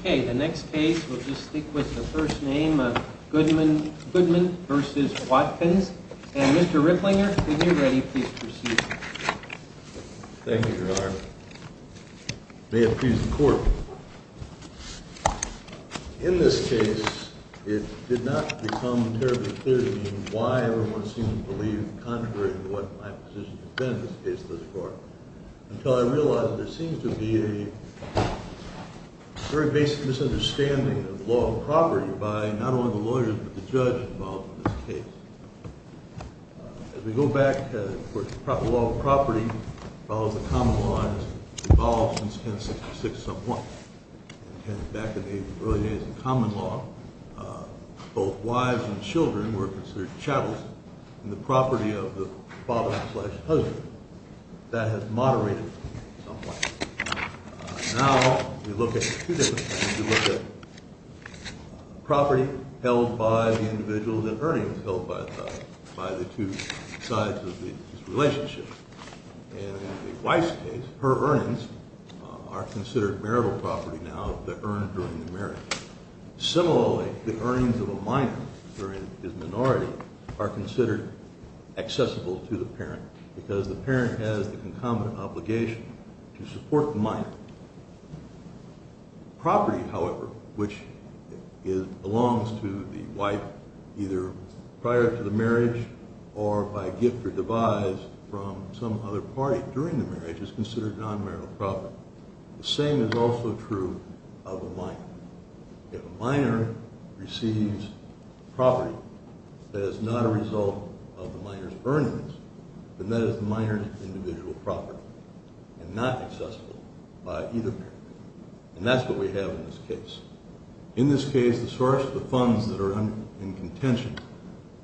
Okay, the next case, we'll just stick with the first name of Goodman v. Watkins. And, Mr. Ripplinger, when you're ready, please proceed. Thank you, Your Honor. May it please the Court. In this case, it did not become terribly clear to me why everyone seemed to believe, contrary to what my position has been in this case before, until I realized that there seems to be a very basic misunderstanding of law and property by not only the lawyers, but the judge involved in this case. As we go back, of course, the law of property follows the common law and has evolved since 1066-1. Back in the early days of common law, both wives and children were considered chattels in the property of the father-in-law. That has moderated somewhat. Now, we look at two different things. We look at property held by the individuals and earnings held by the two sides of this relationship. In the wife's case, her earnings are considered marital property now, the earned during the marriage. Similarly, the earnings of a minor during his minority are considered accessible to the parent because the parent has the concomitant obligation to support the minor. Property, however, which belongs to the wife either prior to the marriage or by gift or devise from some other party during the marriage is considered non-marital property. The same is also true of a minor. If a minor receives property that is not a result of the minor's earnings, then that is the minor's individual property and not accessible by either parent. And that's what we have in this case. In this case, the source of the funds that are in contention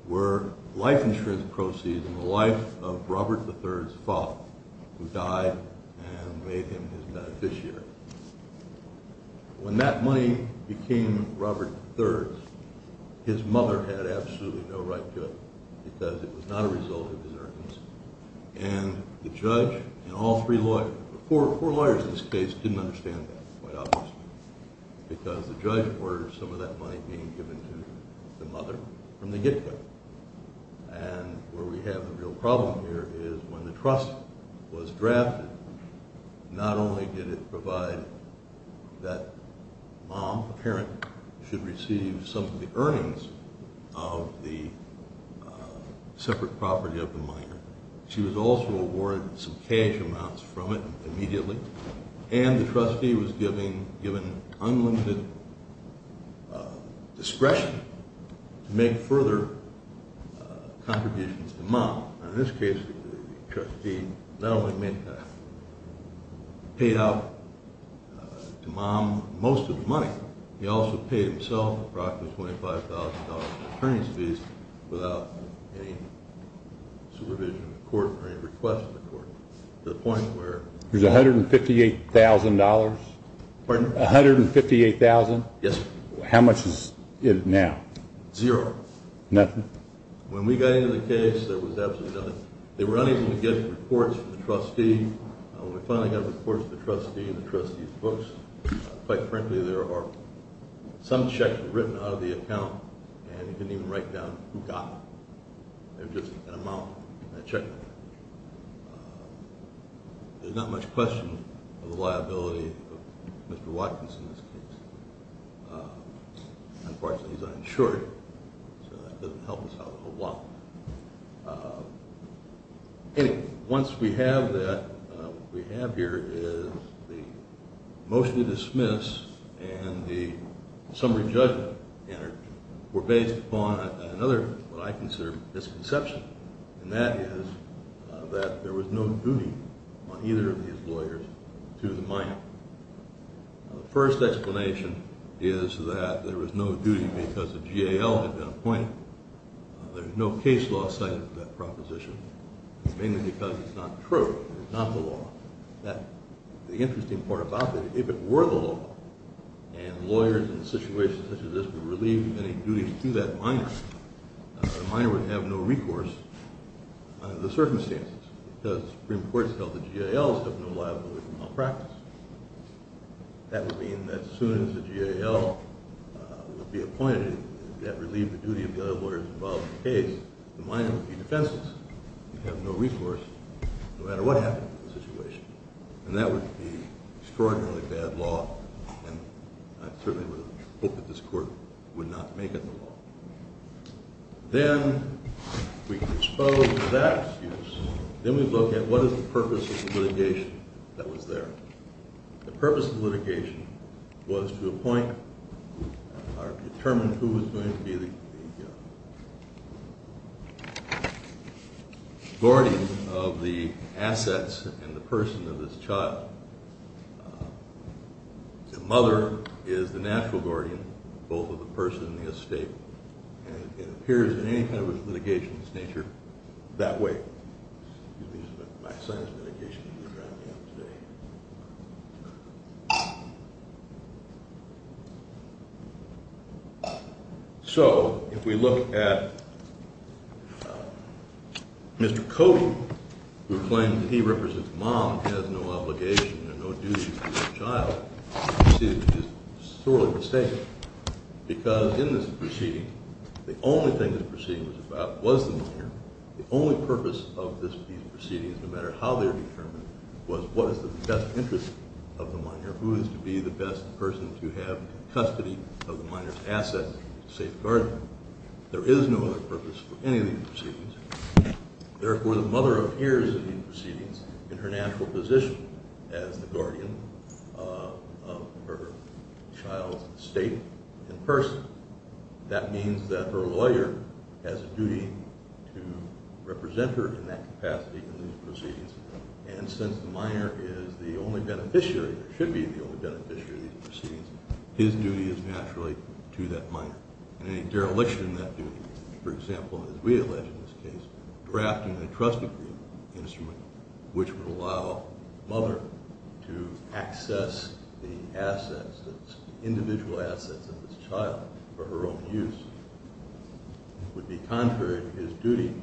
were life insurance proceeds in the life of Robert III's father, who died and made him his beneficiary. When that money became Robert III's, his mother had absolutely no right to it because it was not a result of his earnings. And the judge and all three lawyers, four lawyers in this case, didn't understand that quite obviously because the judge ordered some of that money being given to the mother from the gift card. And where we have a real problem here is when the trust was drafted, not only did it provide that mom, the parent, should receive some of the earnings of the separate property of the minor, she was also awarded some cash amounts from it immediately, and the trustee was given unlimited discretion to make further contributions to mom. In this case, the trustee not only paid out to mom most of the money, he also paid himself approximately $5,000 in attorney's fees without any supervision of the court or any request of the court, to the point where… There's $158,000? Pardon? $158,000? Yes, sir. How much is it now? Zero. Nothing? When we got into the case, there was absolutely nothing. They were unable to get reports from the trustee. When we finally got reports from the trustee and the trustee's books, quite frankly, there are some checks written out of the account and you couldn't even write down who got them. There's not much question of the liability of Mr. Watkins in this case. Unfortunately, he's uninsured, so that doesn't help us out a whole lot. Anyway, once we have that, what we have here is the motion to dismiss and the summary judgment were based upon another, what I consider, misconception, and that is that there was no duty on either of these lawyers to the minor. The first explanation is that there was no duty because the GAL had been appointed. There's no case law cited for that proposition. It's mainly because it's not true. It's not the law. The interesting part about it, if it were the law, and lawyers in situations such as this were relieved of any duty to that minor, the minor would have no recourse under the circumstances because Supreme Court has held that GALs have no liability for malpractice. That would mean that as soon as the GAL would be appointed that relieved the duty of the other lawyers involved in the case, the minor would be defenseless. He'd have no recourse no matter what happened to the situation, and that would be extraordinarily bad law, and I certainly would hope that this Court would not make it the law. Then we can expose that excuse. Then we look at what is the purpose of the litigation that was there. The purpose of the litigation was to appoint or determine who was going to be the guardian of the assets and the person of this child. The mother is the natural guardian of both of the person and the estate, and it appears in any kind of litigation of this nature that way. My son's litigation is going to drown me out today. So if we look at Mr. Cody, who claims that he represents a mom and has no obligation and no duty to that child, the proceeding is sorely mistaken because in this proceeding, the only thing this proceeding was about was the minor. The only purpose of these proceedings, no matter how they're determined, was what is the best interest of the minor, who is to be the best person to have custody of the minor's assets and safeguard them. There is no other purpose for any of these proceedings. Therefore, the mother appears in these proceedings in her natural position as the guardian of her child's estate and person. That means that her lawyer has a duty to represent her in that capacity in these proceedings, and since the minor is the only beneficiary, or should be the only beneficiary of these proceedings, his duty is naturally to that minor. In any dereliction of that duty, for example, as we allege in this case, drafting a trust agreement instrument, which would allow the mother to access the individual assets of this child for her own use, would be contrary to his duty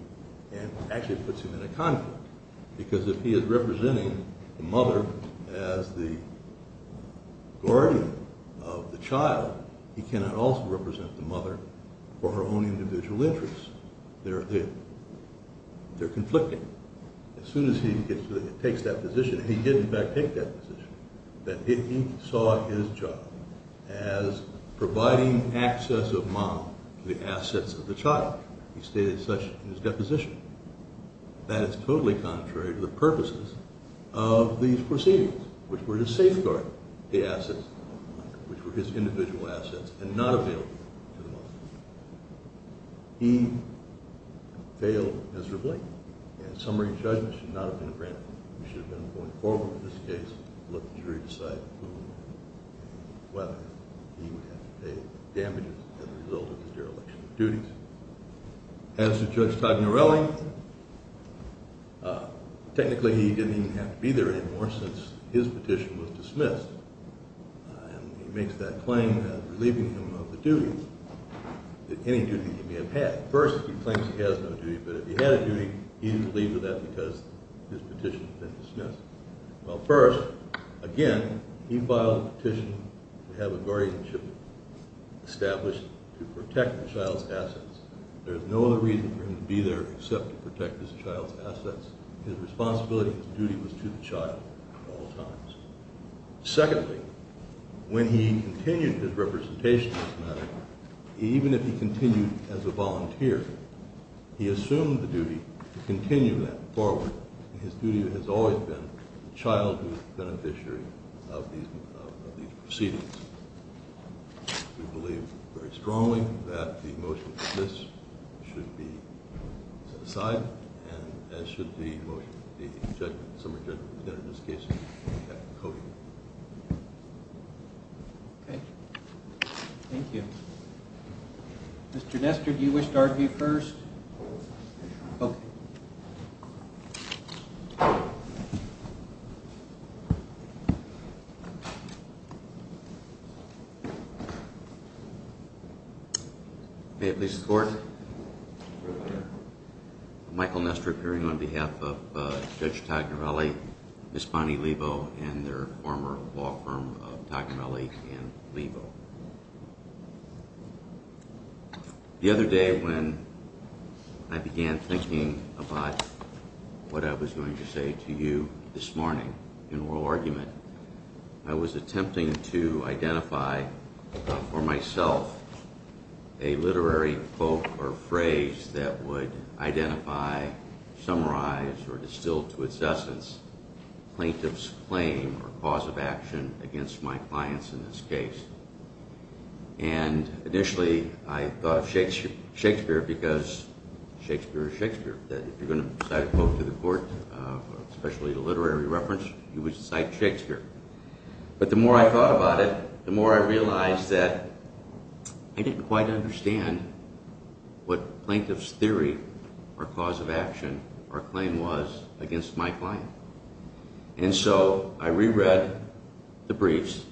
and actually puts him in a conflict. Because if he is representing the mother as the guardian of the child, he cannot also represent the mother for her own individual interests. They're conflicting. As soon as he takes that position, and he did in fact take that position, that he saw his job as providing access of mom to the assets of the child. He stated such in his deposition. That is totally contrary to the purposes of these proceedings, which were to safeguard the assets, which were his individual assets, and not available to the mother. He failed miserably, and summary judgment should not have been granted. We should have been going forward with this case and let the jury decide whether he would have to pay damages as a result of the dereliction of duties. As to Judge Tagnarelli, technically he didn't even have to be there anymore since his petition was dismissed. And he makes that claim as relieving him of the duty, any duty he may have had. First, he claims he has no duty, but if he had a duty, he didn't leave with that because his petition had been dismissed. Well first, again, he filed a petition to have a guardianship established to protect the child's assets. There's no other reason for him to be there except to protect his child's assets. His responsibility and duty was to the child at all times. Secondly, when he continued his representation, even if he continued as a volunteer, he assumed the duty to continue that forward. His duty has always been the childhood beneficiary of these proceedings. We believe very strongly that the motion to dismiss should be set aside, as should the summary judgment in this case. Thank you. Mr. Nestor, do you wish to argue first? I will. May it please the Court? Michael Nestor, appearing on behalf of Judge Tagnarelli, Ms. Bonnie Lebo, and their former law firm of Tagnarelli and Lebo. The other day when I began thinking about what I was going to say to you this morning in oral argument, I was attempting to identify for myself a literary quote or phrase that would identify, summarize, or distill to its essence plaintiff's claim or cause of action against my clients in this case. Initially, I thought of Shakespeare because Shakespeare is Shakespeare. If you're going to cite a quote to the Court, especially a literary reference, you would cite Shakespeare. But the more I thought about it, the more I realized that I didn't quite understand what plaintiff's theory or cause of action or claim was against my client. And so I reread the briefs,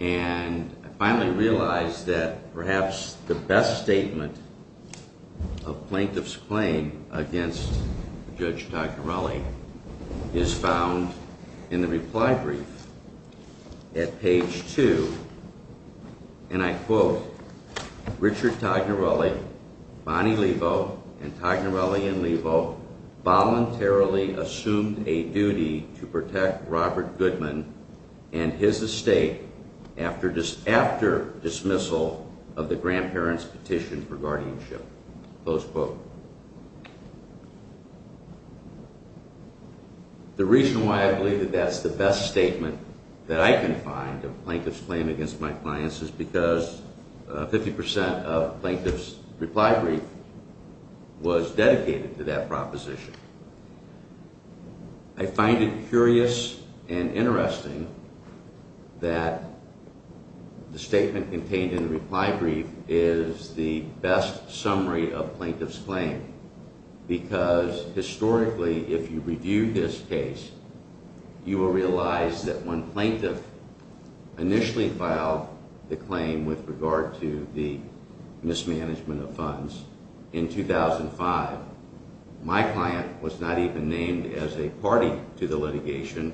and I finally realized that perhaps the best statement of plaintiff's claim against Judge Tagnarelli is found in the reply brief at page 2. And I quote, Richard Tagnarelli, Bonnie Lebo, and Tagnarelli and Lebo voluntarily assumed a duty to protect Robert Goodman and his estate after dismissal of the grandparents' petition for guardianship. Close quote. The reason why I believe that that's the best statement that I can find of plaintiff's claim against my clients is because 50% of plaintiff's reply brief was dedicated to that proposition. I find it curious and interesting that the statement contained in the reply brief is the best summary of plaintiff's claim because historically, if you review this case, you will realize that when plaintiff initially filed the claim with regard to the mismanagement of funds in 2005, my client was not even named as a party to the litigation,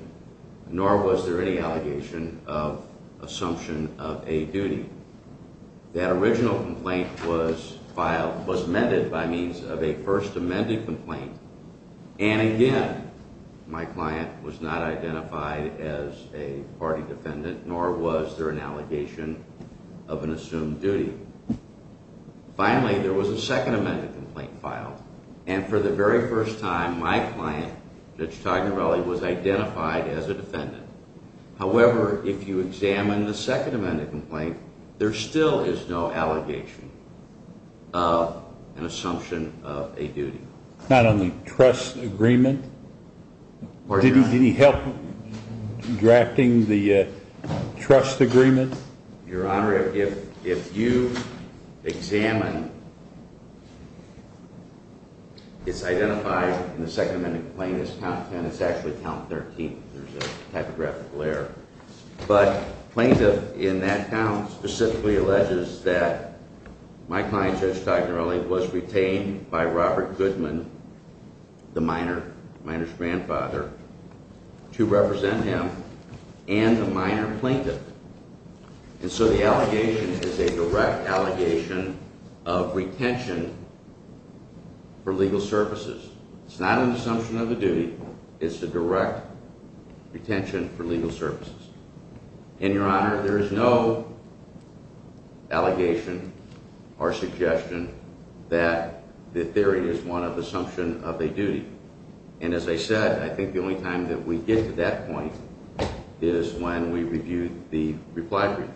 nor was there any allegation of assumption of a duty. That original complaint was filed, was amended by means of a first amended complaint, and again, my client was not identified as a party defendant, nor was there an allegation of an assumed duty. Finally, there was a second amended complaint filed, and for the very first time, my client, Judge Tagnarelli, was identified as a defendant. However, if you examine the second amended complaint, there still is no allegation of an assumption of a duty. Not on the trust agreement? Did he help drafting the trust agreement? Your Honor, if you examine, it's identified in the second amended complaint as count 10. It's actually count 13. There's a typographical error. But plaintiff in that count specifically alleges that my client, Judge Tagnarelli, was retained by Robert Goodman, the minor's grandfather, to represent him and a minor plaintiff. And so the allegation is a direct allegation of retention for legal services. It's not an assumption of a duty. It's a direct retention for legal services. And, Your Honor, there is no allegation or suggestion that the theory is one of assumption of a duty. And as I said, I think the only time that we get to that point is when we review the reply brief.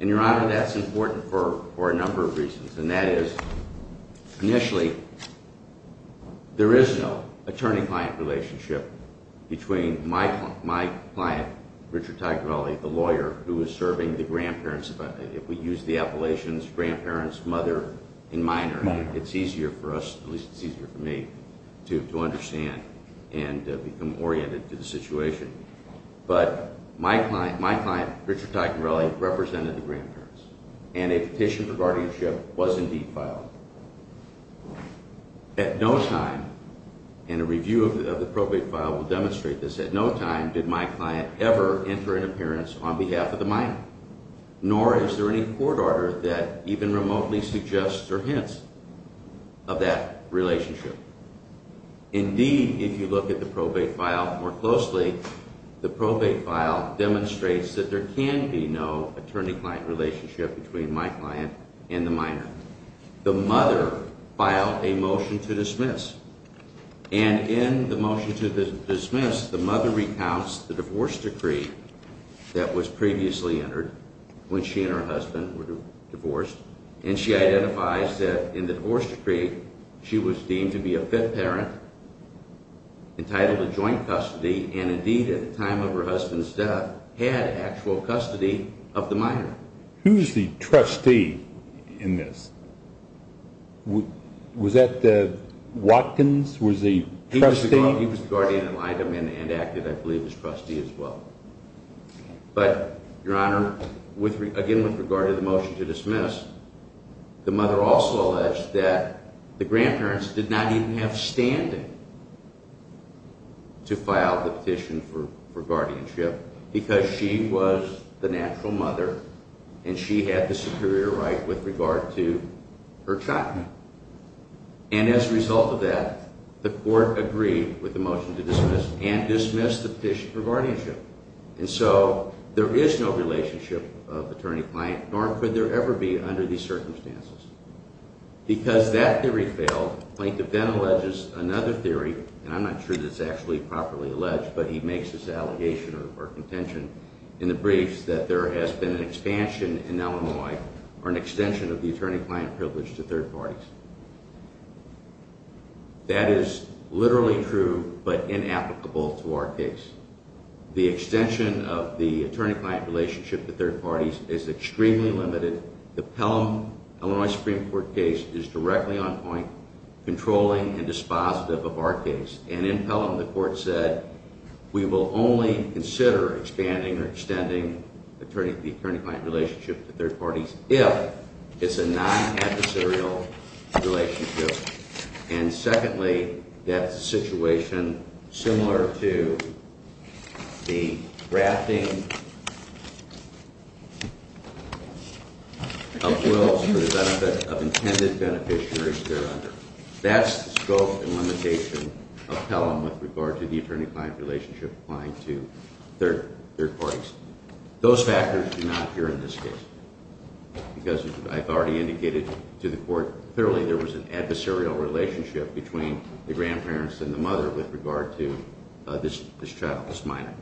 And, Your Honor, that's important for a number of reasons. And that is, initially, there is no attorney-client relationship between my client, Richard Tagnarelli, the lawyer who is serving the grandparents. If we use the appellations, grandparents, mother, and minor, it's easier for us, at least it's easier for me, to understand and become oriented to the situation. But my client, Richard Tagnarelli, represented the grandparents. And a petition for guardianship was indeed filed. At no time, and a review of the probate file will demonstrate this, at no time did my client ever enter an appearance on behalf of the minor. Nor is there any court order that even remotely suggests or hints of that relationship. Indeed, if you look at the probate file more closely, the probate file demonstrates that there can be no attorney-client relationship between my client and the minor. The mother filed a motion to dismiss. And in the motion to dismiss, the mother recounts the divorce decree that was previously entered when she and her husband were divorced. And she identifies that in the divorce decree, she was deemed to be a fifth parent, entitled to joint custody, and indeed, at the time of her husband's death, had actual custody of the minor. Who's the trustee in this? Was that Watkins, was the trustee? He was the guardian and acted, I believe, as trustee as well. But, Your Honor, again with regard to the motion to dismiss, the mother also alleged that the grandparents did not even have standing to file the petition for guardianship because she was the natural mother and she had the superior right with regard to her child. And as a result of that, the court agreed with the motion to dismiss and dismissed the petition for guardianship. And so, there is no relationship of attorney-client, nor could there ever be under these circumstances. Because that theory failed, Plank then alleges another theory, and I'm not sure that it's actually properly alleged, but he makes this allegation or contention in the briefs that there has been an expansion in Illinois or an extension of the attorney-client privilege to third parties. That is literally true, but inapplicable to our case. The extension of the attorney-client relationship to third parties is extremely limited. The Pelham, Illinois Supreme Court case is directly on point, controlling and dispositive of our case. And in Pelham, the court said, we will only consider expanding or extending the attorney-client relationship to third parties if it's a non-adversarial relationship. And secondly, that's a situation similar to the drafting of wills for the benefit of intended beneficiaries there under. That's the scope and limitation of Pelham with regard to the attorney-client relationship applying to third parties. Those factors do not appear in this case. Because, as I've already indicated to the court, clearly there was an adversarial relationship between the grandparents and the mother with regard to this child, this minor.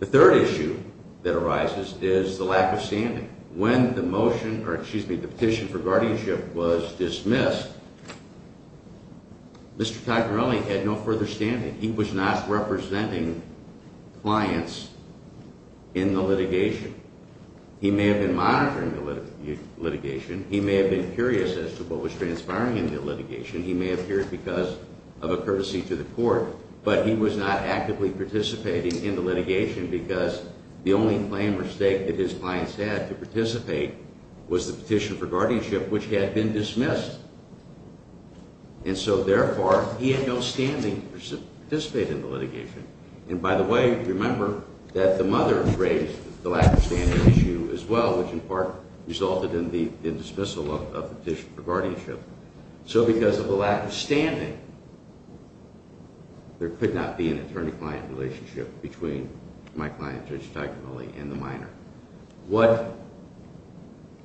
The third issue that arises is the lack of standing. When the petition for guardianship was dismissed, Mr. Cagnarelli had no further standing. He was not representing clients in the litigation. He may have been monitoring the litigation. He may have been curious as to what was transpiring in the litigation. He may have appeared because of a courtesy to the court. But he was not actively participating in the litigation because the only claim or stake that his clients had to participate was the petition for guardianship, which had been dismissed. And so, therefore, he had no standing to participate in the litigation. And by the way, remember that the mother raised the lack of standing issue as well, which in part resulted in the dismissal of the petition for guardianship. So because of the lack of standing, there could not be an attorney-client relationship between my client, Judge Cagnarelli, and the minor. What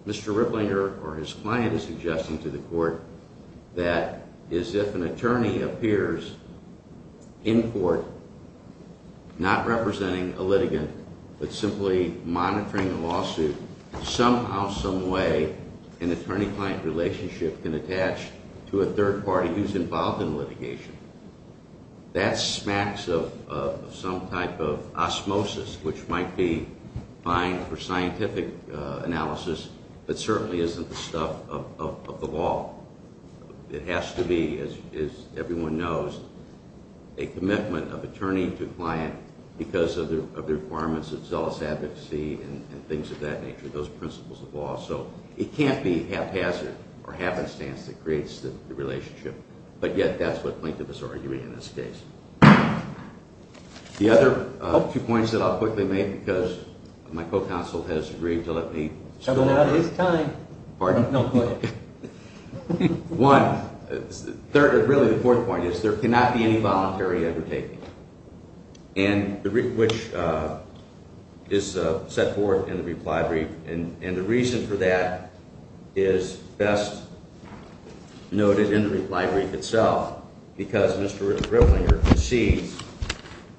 Mr. Riplinger or his client is suggesting to the court that is if an attorney appears in court not representing a litigant but simply monitoring a lawsuit, somehow, someway, an attorney-client relationship can attach to a third party who's involved in litigation. That smacks of some type of osmosis, which might be fine for scientific analysis, but certainly isn't the stuff of the law. It has to be, as everyone knows, a commitment of attorney to client because of the requirements of zealous advocacy and things of that nature, those principles of law. So it can't be haphazard or happenstance that creates the relationship. But yet, that's what plaintiff is arguing in this case. The other two points that I'll quickly make because my co-counsel has agreed to let me speak. Pardon? No, go ahead. One, really the fourth point is there cannot be any voluntary undertaking, which is set forth in the reply brief. And the reason for that is best noted in the reply brief itself because Mr. Riplinger concedes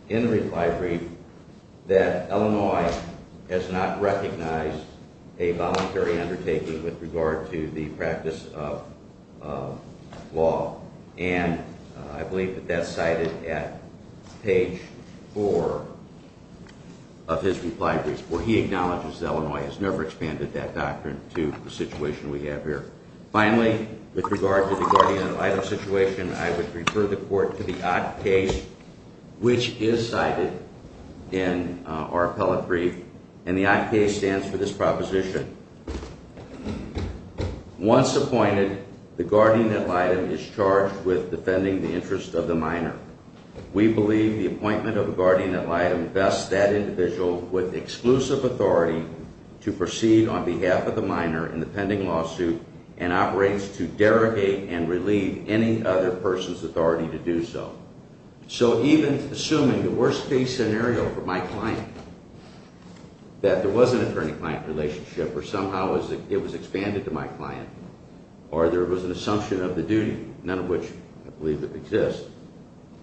in the reply brief that Illinois has not recognized a voluntary undertaking with regard to the practice of law. And I believe that that's cited at page four of his reply brief, where he acknowledges Illinois has never expanded that doctrine to the situation we have here. Finally, with regard to the guardian ad litem situation, I would refer the court to the OCK case, which is cited in our appellate brief. And the OCK case stands for this proposition. Once appointed, the guardian ad litem is charged with defending the interest of the minor. We believe the appointment of the guardian ad litem bests that individual with exclusive authority to proceed on behalf of the minor in the pending lawsuit and operates to derogate and relieve any other person's authority to do so. So even assuming the worst case scenario for my client, that there was an attorney-client relationship, or somehow it was expanded to my client, or there was an assumption of the duty, none of which I believe exists.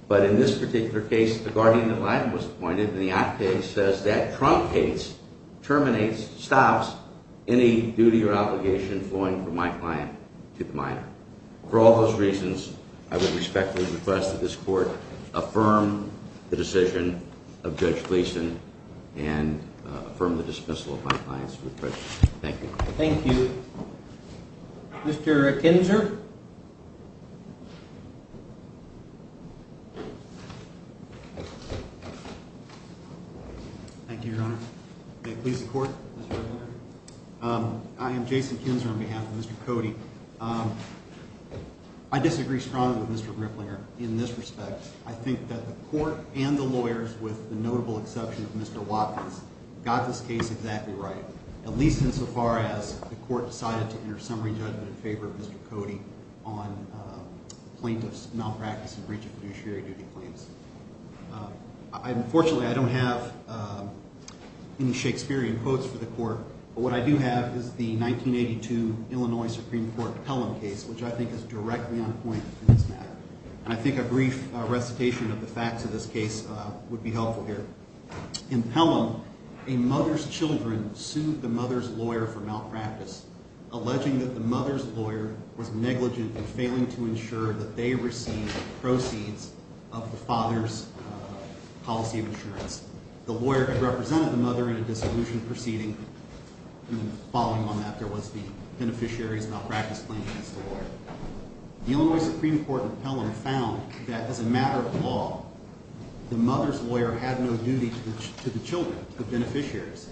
But in this particular case, the guardian ad litem was appointed, and the OCK case says that trunk case terminates, stops, any duty or obligation flowing from my client to the minor. For all those reasons, I would respectfully request that this court affirm the decision of Judge Gleeson and affirm the dismissal of my client's request. Thank you. Thank you. Mr. Kinzer? Thank you, Your Honor. May it please the court, Mr. Attorney General? Thank you. I am Jason Kinzer on behalf of Mr. Cody. I disagree strongly with Mr. Griplinger in this respect. I think that the court and the lawyers, with the notable exception of Mr. Watkins, got this case exactly right, at least insofar as the court decided to enter summary judgment in favor of Mr. Cody on plaintiff's malpractice and breach of fiduciary duty claims. Unfortunately, I don't have any Shakespearean quotes for the court, but what I do have is the 1982 Illinois Supreme Court Pelham case, which I think is directly on point in this matter. And I think a brief recitation of the facts of this case would be helpful here. In Pelham, a mother's children sued the mother's lawyer for malpractice, alleging that the mother's lawyer was negligent in failing to ensure that they received the proceeds of the father's policy of insurance. The lawyer had represented the mother in a dissolution proceeding, and then following on that there was the beneficiary's malpractice claim against the lawyer. The Illinois Supreme Court in Pelham found that as a matter of law, the mother's lawyer had no duty to the children, the beneficiaries.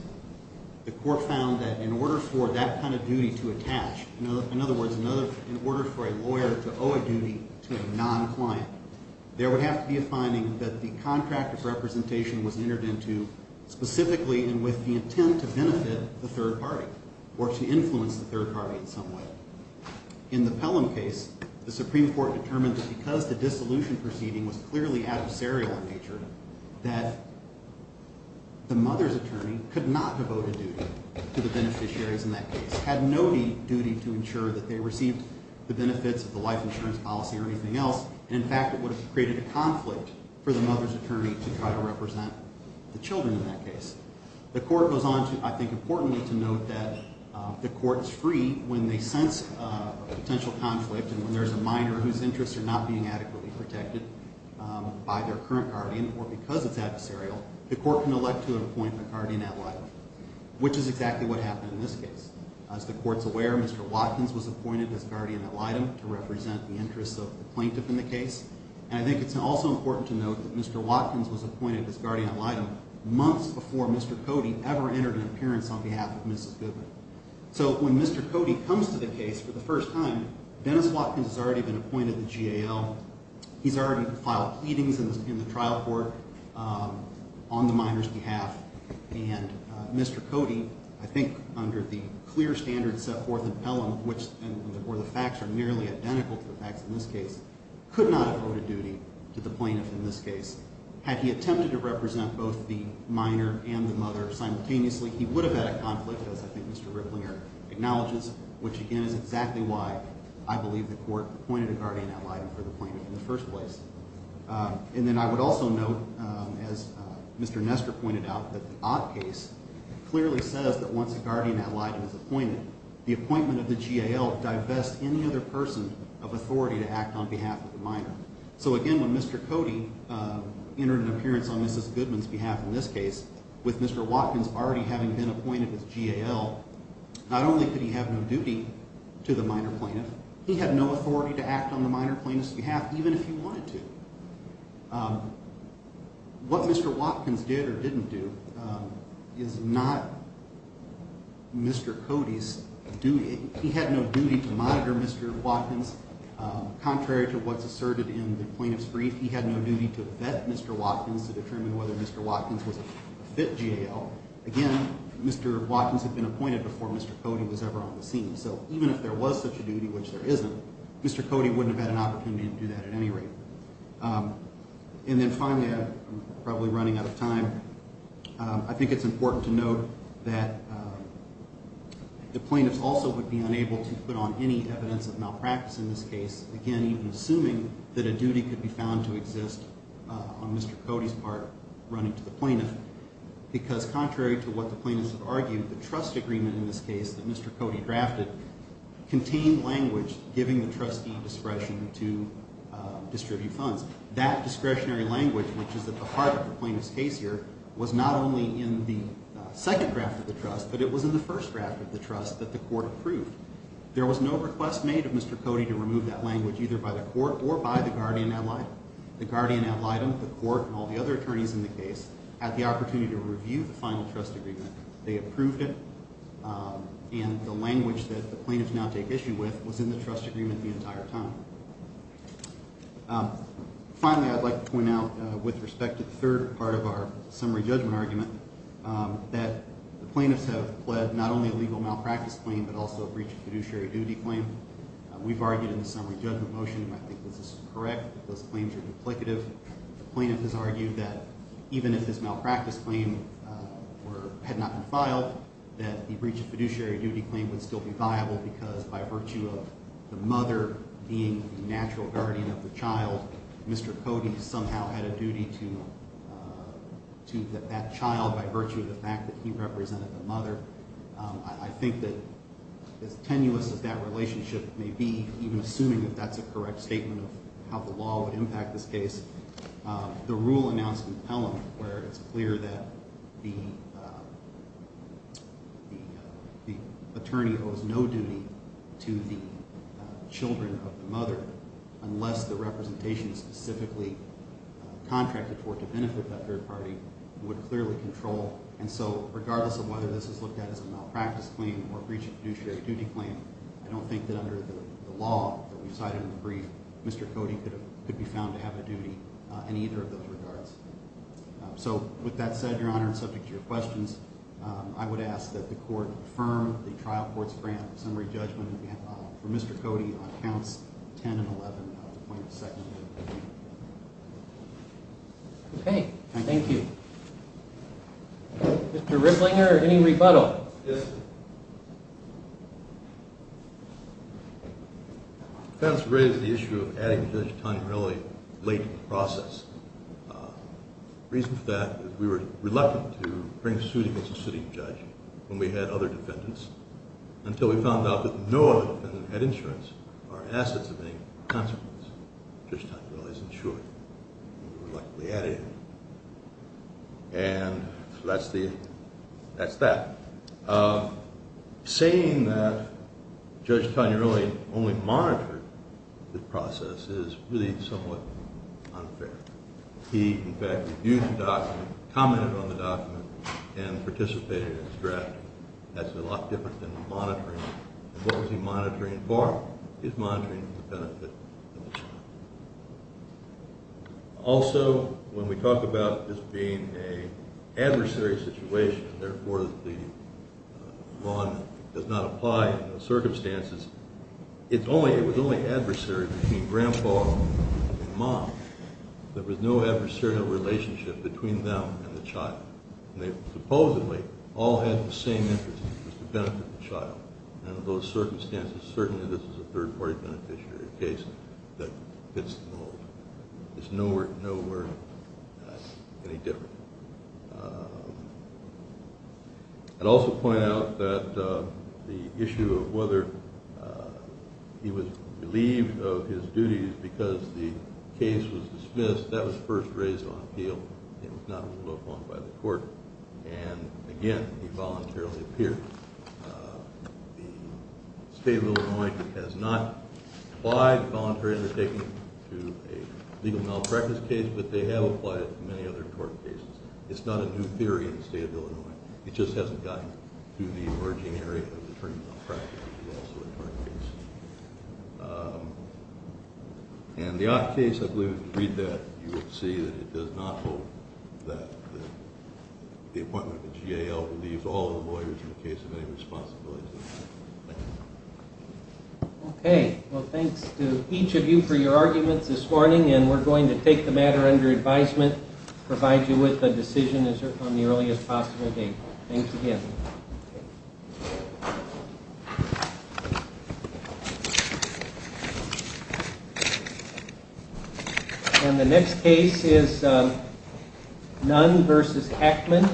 The court found that in order for that kind of duty to attach, in other words, in order for a lawyer to owe a duty to a non-client, there would have to be a finding that the contract of representation was entered into specifically and with the intent to benefit the third party, or to influence the third party in some way. In the Pelham case, the Supreme Court determined that because the dissolution proceeding was clearly adversarial in nature, that the mother's attorney could not devote a duty to the beneficiaries in that case. Had no duty to ensure that they received the benefits of the life insurance policy or anything else. In fact, it would have created a conflict for the mother's attorney to try to represent the children in that case. The court goes on to, I think importantly, to note that the court is free when they sense a potential conflict and when there's a minor whose interests are not being adequately protected by their current guardian or because it's adversarial, the court can elect to appoint a guardian ad litem, which is exactly what happened in this case. As the court's aware, Mr. Watkins was appointed as guardian ad litem to represent the interests of the plaintiff in the case. And I think it's also important to note that Mr. Watkins was appointed as guardian ad litem months before Mr. Cody ever entered an appearance on behalf of Mrs. Goodman. So when Mr. Cody comes to the case for the first time, Dennis Watkins has already been appointed the GAL. He's already filed pleadings in the trial court on the minor's behalf. And Mr. Cody, I think under the clear standards set forth in Pelham, which the facts are nearly identical to the facts in this case, could not have owed a duty to the plaintiff in this case. Had he attempted to represent both the minor and the mother simultaneously, he would have had a conflict, as I think Mr. Ripplinger acknowledges, which again is exactly why I believe the court appointed a guardian ad litem for the plaintiff in the first place. And then I would also note, as Mr. Nestor pointed out, that the Ott case clearly says that once a guardian ad litem is appointed, the appointment of the GAL divests any other person of authority to act on behalf of the minor. So again, when Mr. Cody entered an appearance on Mrs. Goodman's behalf in this case, with Mr. Watkins already having been appointed as GAL, not only could he have no duty to the minor plaintiff, he had no authority to act on the minor plaintiff's behalf, even if he wanted to. What Mr. Watkins did or didn't do is not Mr. Cody's duty. He had no duty to monitor Mr. Watkins. Contrary to what's asserted in the plaintiff's brief, he had no duty to vet Mr. Watkins to determine whether Mr. Watkins was a fit GAL. Again, Mr. Watkins had been appointed before Mr. Cody was ever on the scene, so even if there was such a duty, which there isn't, Mr. Cody wouldn't have had an opportunity to do that at any rate. And then finally, I'm probably running out of time, I think it's important to note that the plaintiffs also would be unable to put on any evidence of malpractice in this case, again, even assuming that a duty could be found to exist on Mr. Cody's part running to the plaintiff, because contrary to what the plaintiffs have argued, the trust agreement in this case that Mr. Cody drafted contained language giving the trustee discretion to distribute funds. That discretionary language, which is at the heart of the plaintiff's case here, was not only in the second draft of the trust, but it was in the first draft of the trust that the court approved. There was no request made of Mr. Cody to remove that language either by the court or by the guardian ad litem. The guardian ad litem, the court, and all the other attorneys in the case had the opportunity to review the final trust agreement. They approved it, and the language that the plaintiffs now take issue with was in the trust agreement the entire time. Finally, I'd like to point out with respect to the third part of our summary judgment argument that the plaintiffs have pled not only a legal malpractice claim, but also a breach of fiduciary duty claim. We've argued in the summary judgment motion, and I think this is correct, that those claims are duplicative. The plaintiff has argued that even if this malpractice claim had not been filed, that the breach of fiduciary duty claim would still be viable, because by virtue of the mother being the natural guardian of the child, Mr. Cody somehow had a duty to that child by virtue of the fact that he represented the mother. I think that as tenuous as that relationship may be, even assuming that that's a correct statement of how the law would impact this case, the rule announced in Pelham where it's clear that the attorney owes no duty to the children of the mother, unless the representation specifically contracted for it to benefit that third party, would clearly control. And so regardless of whether this is looked at as a malpractice claim or a breach of fiduciary duty claim, I don't think that under the law that we cited in the brief, Mr. Cody could be found to have a duty in either of those regards. So with that said, Your Honor, and subject to your questions, I would ask that the court confirm the trial court's grant summary judgment for Mr. Cody on counts 10 and 11 of the plaintiff's second degree. Okay. Thank you. Mr. Rittlinger, any rebuttal? Yes, sir. The defense raised the issue of adding Judge Tinelli late in the process. The reason for that is we were reluctant to bring a suit against a sitting judge when we had other defendants, until we found out that no other defendant had insurance or assets of any consequence. Judge Tinelli is insured, and we reluctantly added him. And so that's that. Saying that Judge Tinelli only monitored the process is really somewhat unfair. He, in fact, reviewed the document, commented on the document, and participated in its draft. That's a lot different than monitoring. And what was he monitoring for? He was monitoring for the benefit of the child. Also, when we talk about this being an adversary situation, and therefore the bond does not apply in those circumstances, it was only adversary between Grandpa and Mom. There was no adversarial relationship between them and the child. And they supposedly all had the same interest, which was to benefit the child. And in those circumstances, certainly this is a third-party beneficiary case that fits the mold. It's nowhere, nowhere any different. I'd also point out that the issue of whether he was relieved of his duties because the case was dismissed, that was first raised on appeal. It was not moved upon by the court. And, again, he voluntarily appeared. The State of Illinois has not applied voluntary undertaking to a legal malpractice case, but they have applied it to many other court cases. It's not a new theory in the State of Illinois. It just hasn't gotten to the emerging area of attorney malpractice, which is also a court case. And the odd case, I believe, if you read that, you will see that it does not hold that the appointment of the GAL relieves all the lawyers in the case of any responsibility. Thank you. Okay. Well, thanks to each of you for your arguments this morning, and we're going to take the matter under advisement, provide you with a decision on the earliest possible date. Thanks again. Thank you. And the next case is Nunn v. Hackman.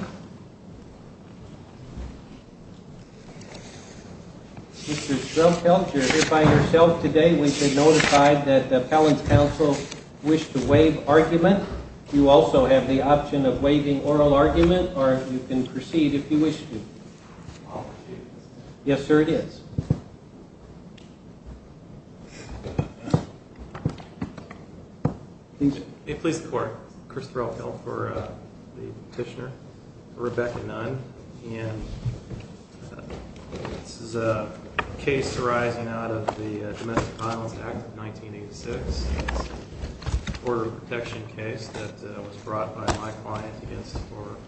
Mr. Schroepfeldt, you're here by yourself today. We should notify that the appellant's counsel wished to waive argument. You also have the option of waiving oral argument, or you can proceed if you wish to. Yes, sir, it is. May it please the Court. Chris Schroepfeldt for the petitioner. Rebecca Nunn, and this is a case arising out of the Domestic Violence Act of 1986, a border protection case that was brought by my client against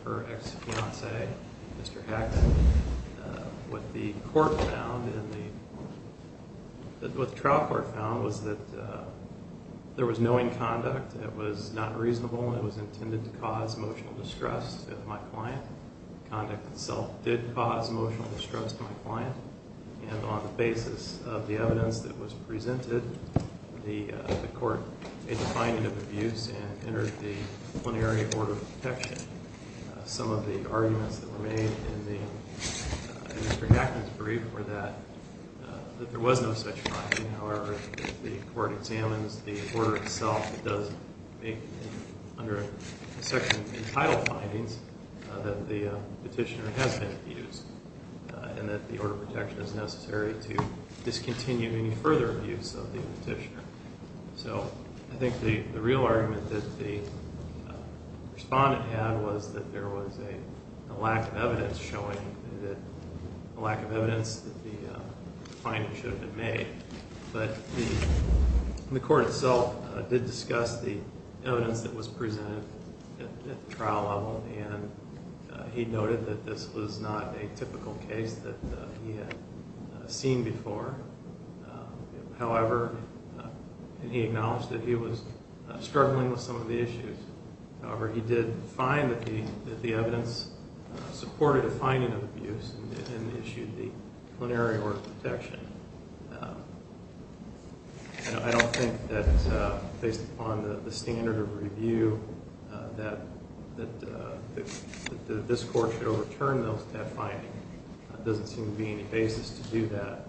her ex-fiancé, Mr. Hackman. What the court found and what the trial court found was that there was no inconduct, it was not reasonable, and it was intended to cause emotional distress to my client. Conduct itself did cause emotional distress to my client, and on the basis of the evidence that was presented, the court made the finding of abuse and entered the plenary order of protection. Some of the arguments that were made in Mr. Hackman's brief were that there was no such finding. However, the court examines the order itself. It does make, under the section entitled findings, that the petitioner has been abused and that the order of protection is necessary to discontinue any further abuse of the petitioner. So I think the real argument that the respondent had was that there was a lack of evidence showing that the finding should have been made. But the court itself did discuss the evidence that was presented at the trial level, and he noted that this was not a typical case that he had seen before. However, he acknowledged that he was struggling with some of the issues. However, he did find that the evidence supported a finding of abuse and issued the plenary order of protection. I don't think that, based upon the standard of review, that this court should overturn that finding. There doesn't seem to be any basis to do that.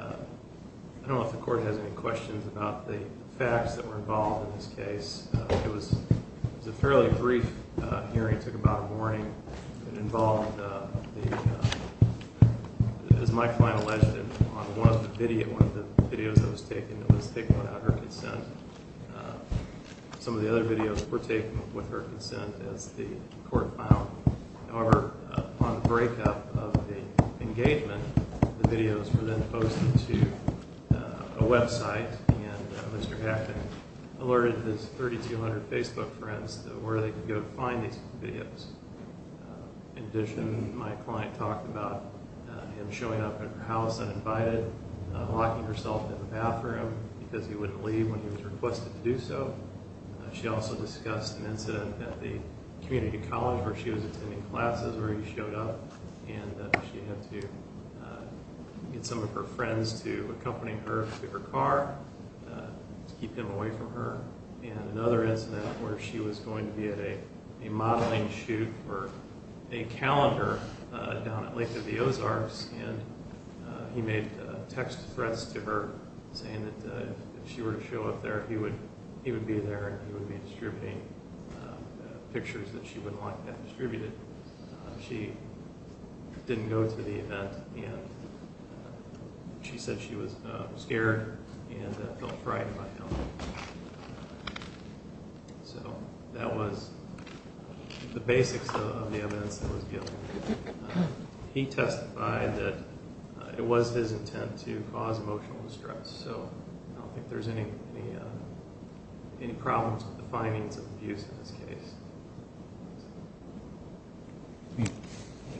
I don't know if the court has any questions about the facts that were involved in this case. It was a fairly brief hearing. It took about a morning. It involved, as my client alleged, one of the videos that was taken that was taken without her consent. Some of the other videos were taken with her consent as the court found. However, upon the breakup of the engagement, the videos were then posted to a website, and Mr. Hackett alerted his 3,200 Facebook friends to where they could go to find these videos. In addition, my client talked about him showing up at her house uninvited, locking herself in the bathroom because he wouldn't leave when he was requested to do so. She also discussed an incident at the community college where she was attending classes where he showed up, and she had to get some of her friends to accompany her to her car to keep him away from her, and another incident where she was going to be at a modeling shoot for a calendar down at Lake of the Ozarks, and he made text threats to her saying that if she were to show up there, he would be there, and he would be distributing pictures that she wouldn't like to have distributed. She didn't go to the event, and she said she was scared and felt frightened by him. So that was the basics of the evidence that was given. He testified that it was his intent to cause emotional distress, so I don't think there's any problems with the findings of the abuse in this case.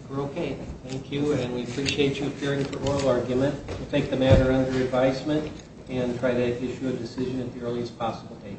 We're okay. Thank you, and we appreciate you appearing for oral argument. We'll take the matter under advisement and try to issue a decision at the earliest possible date.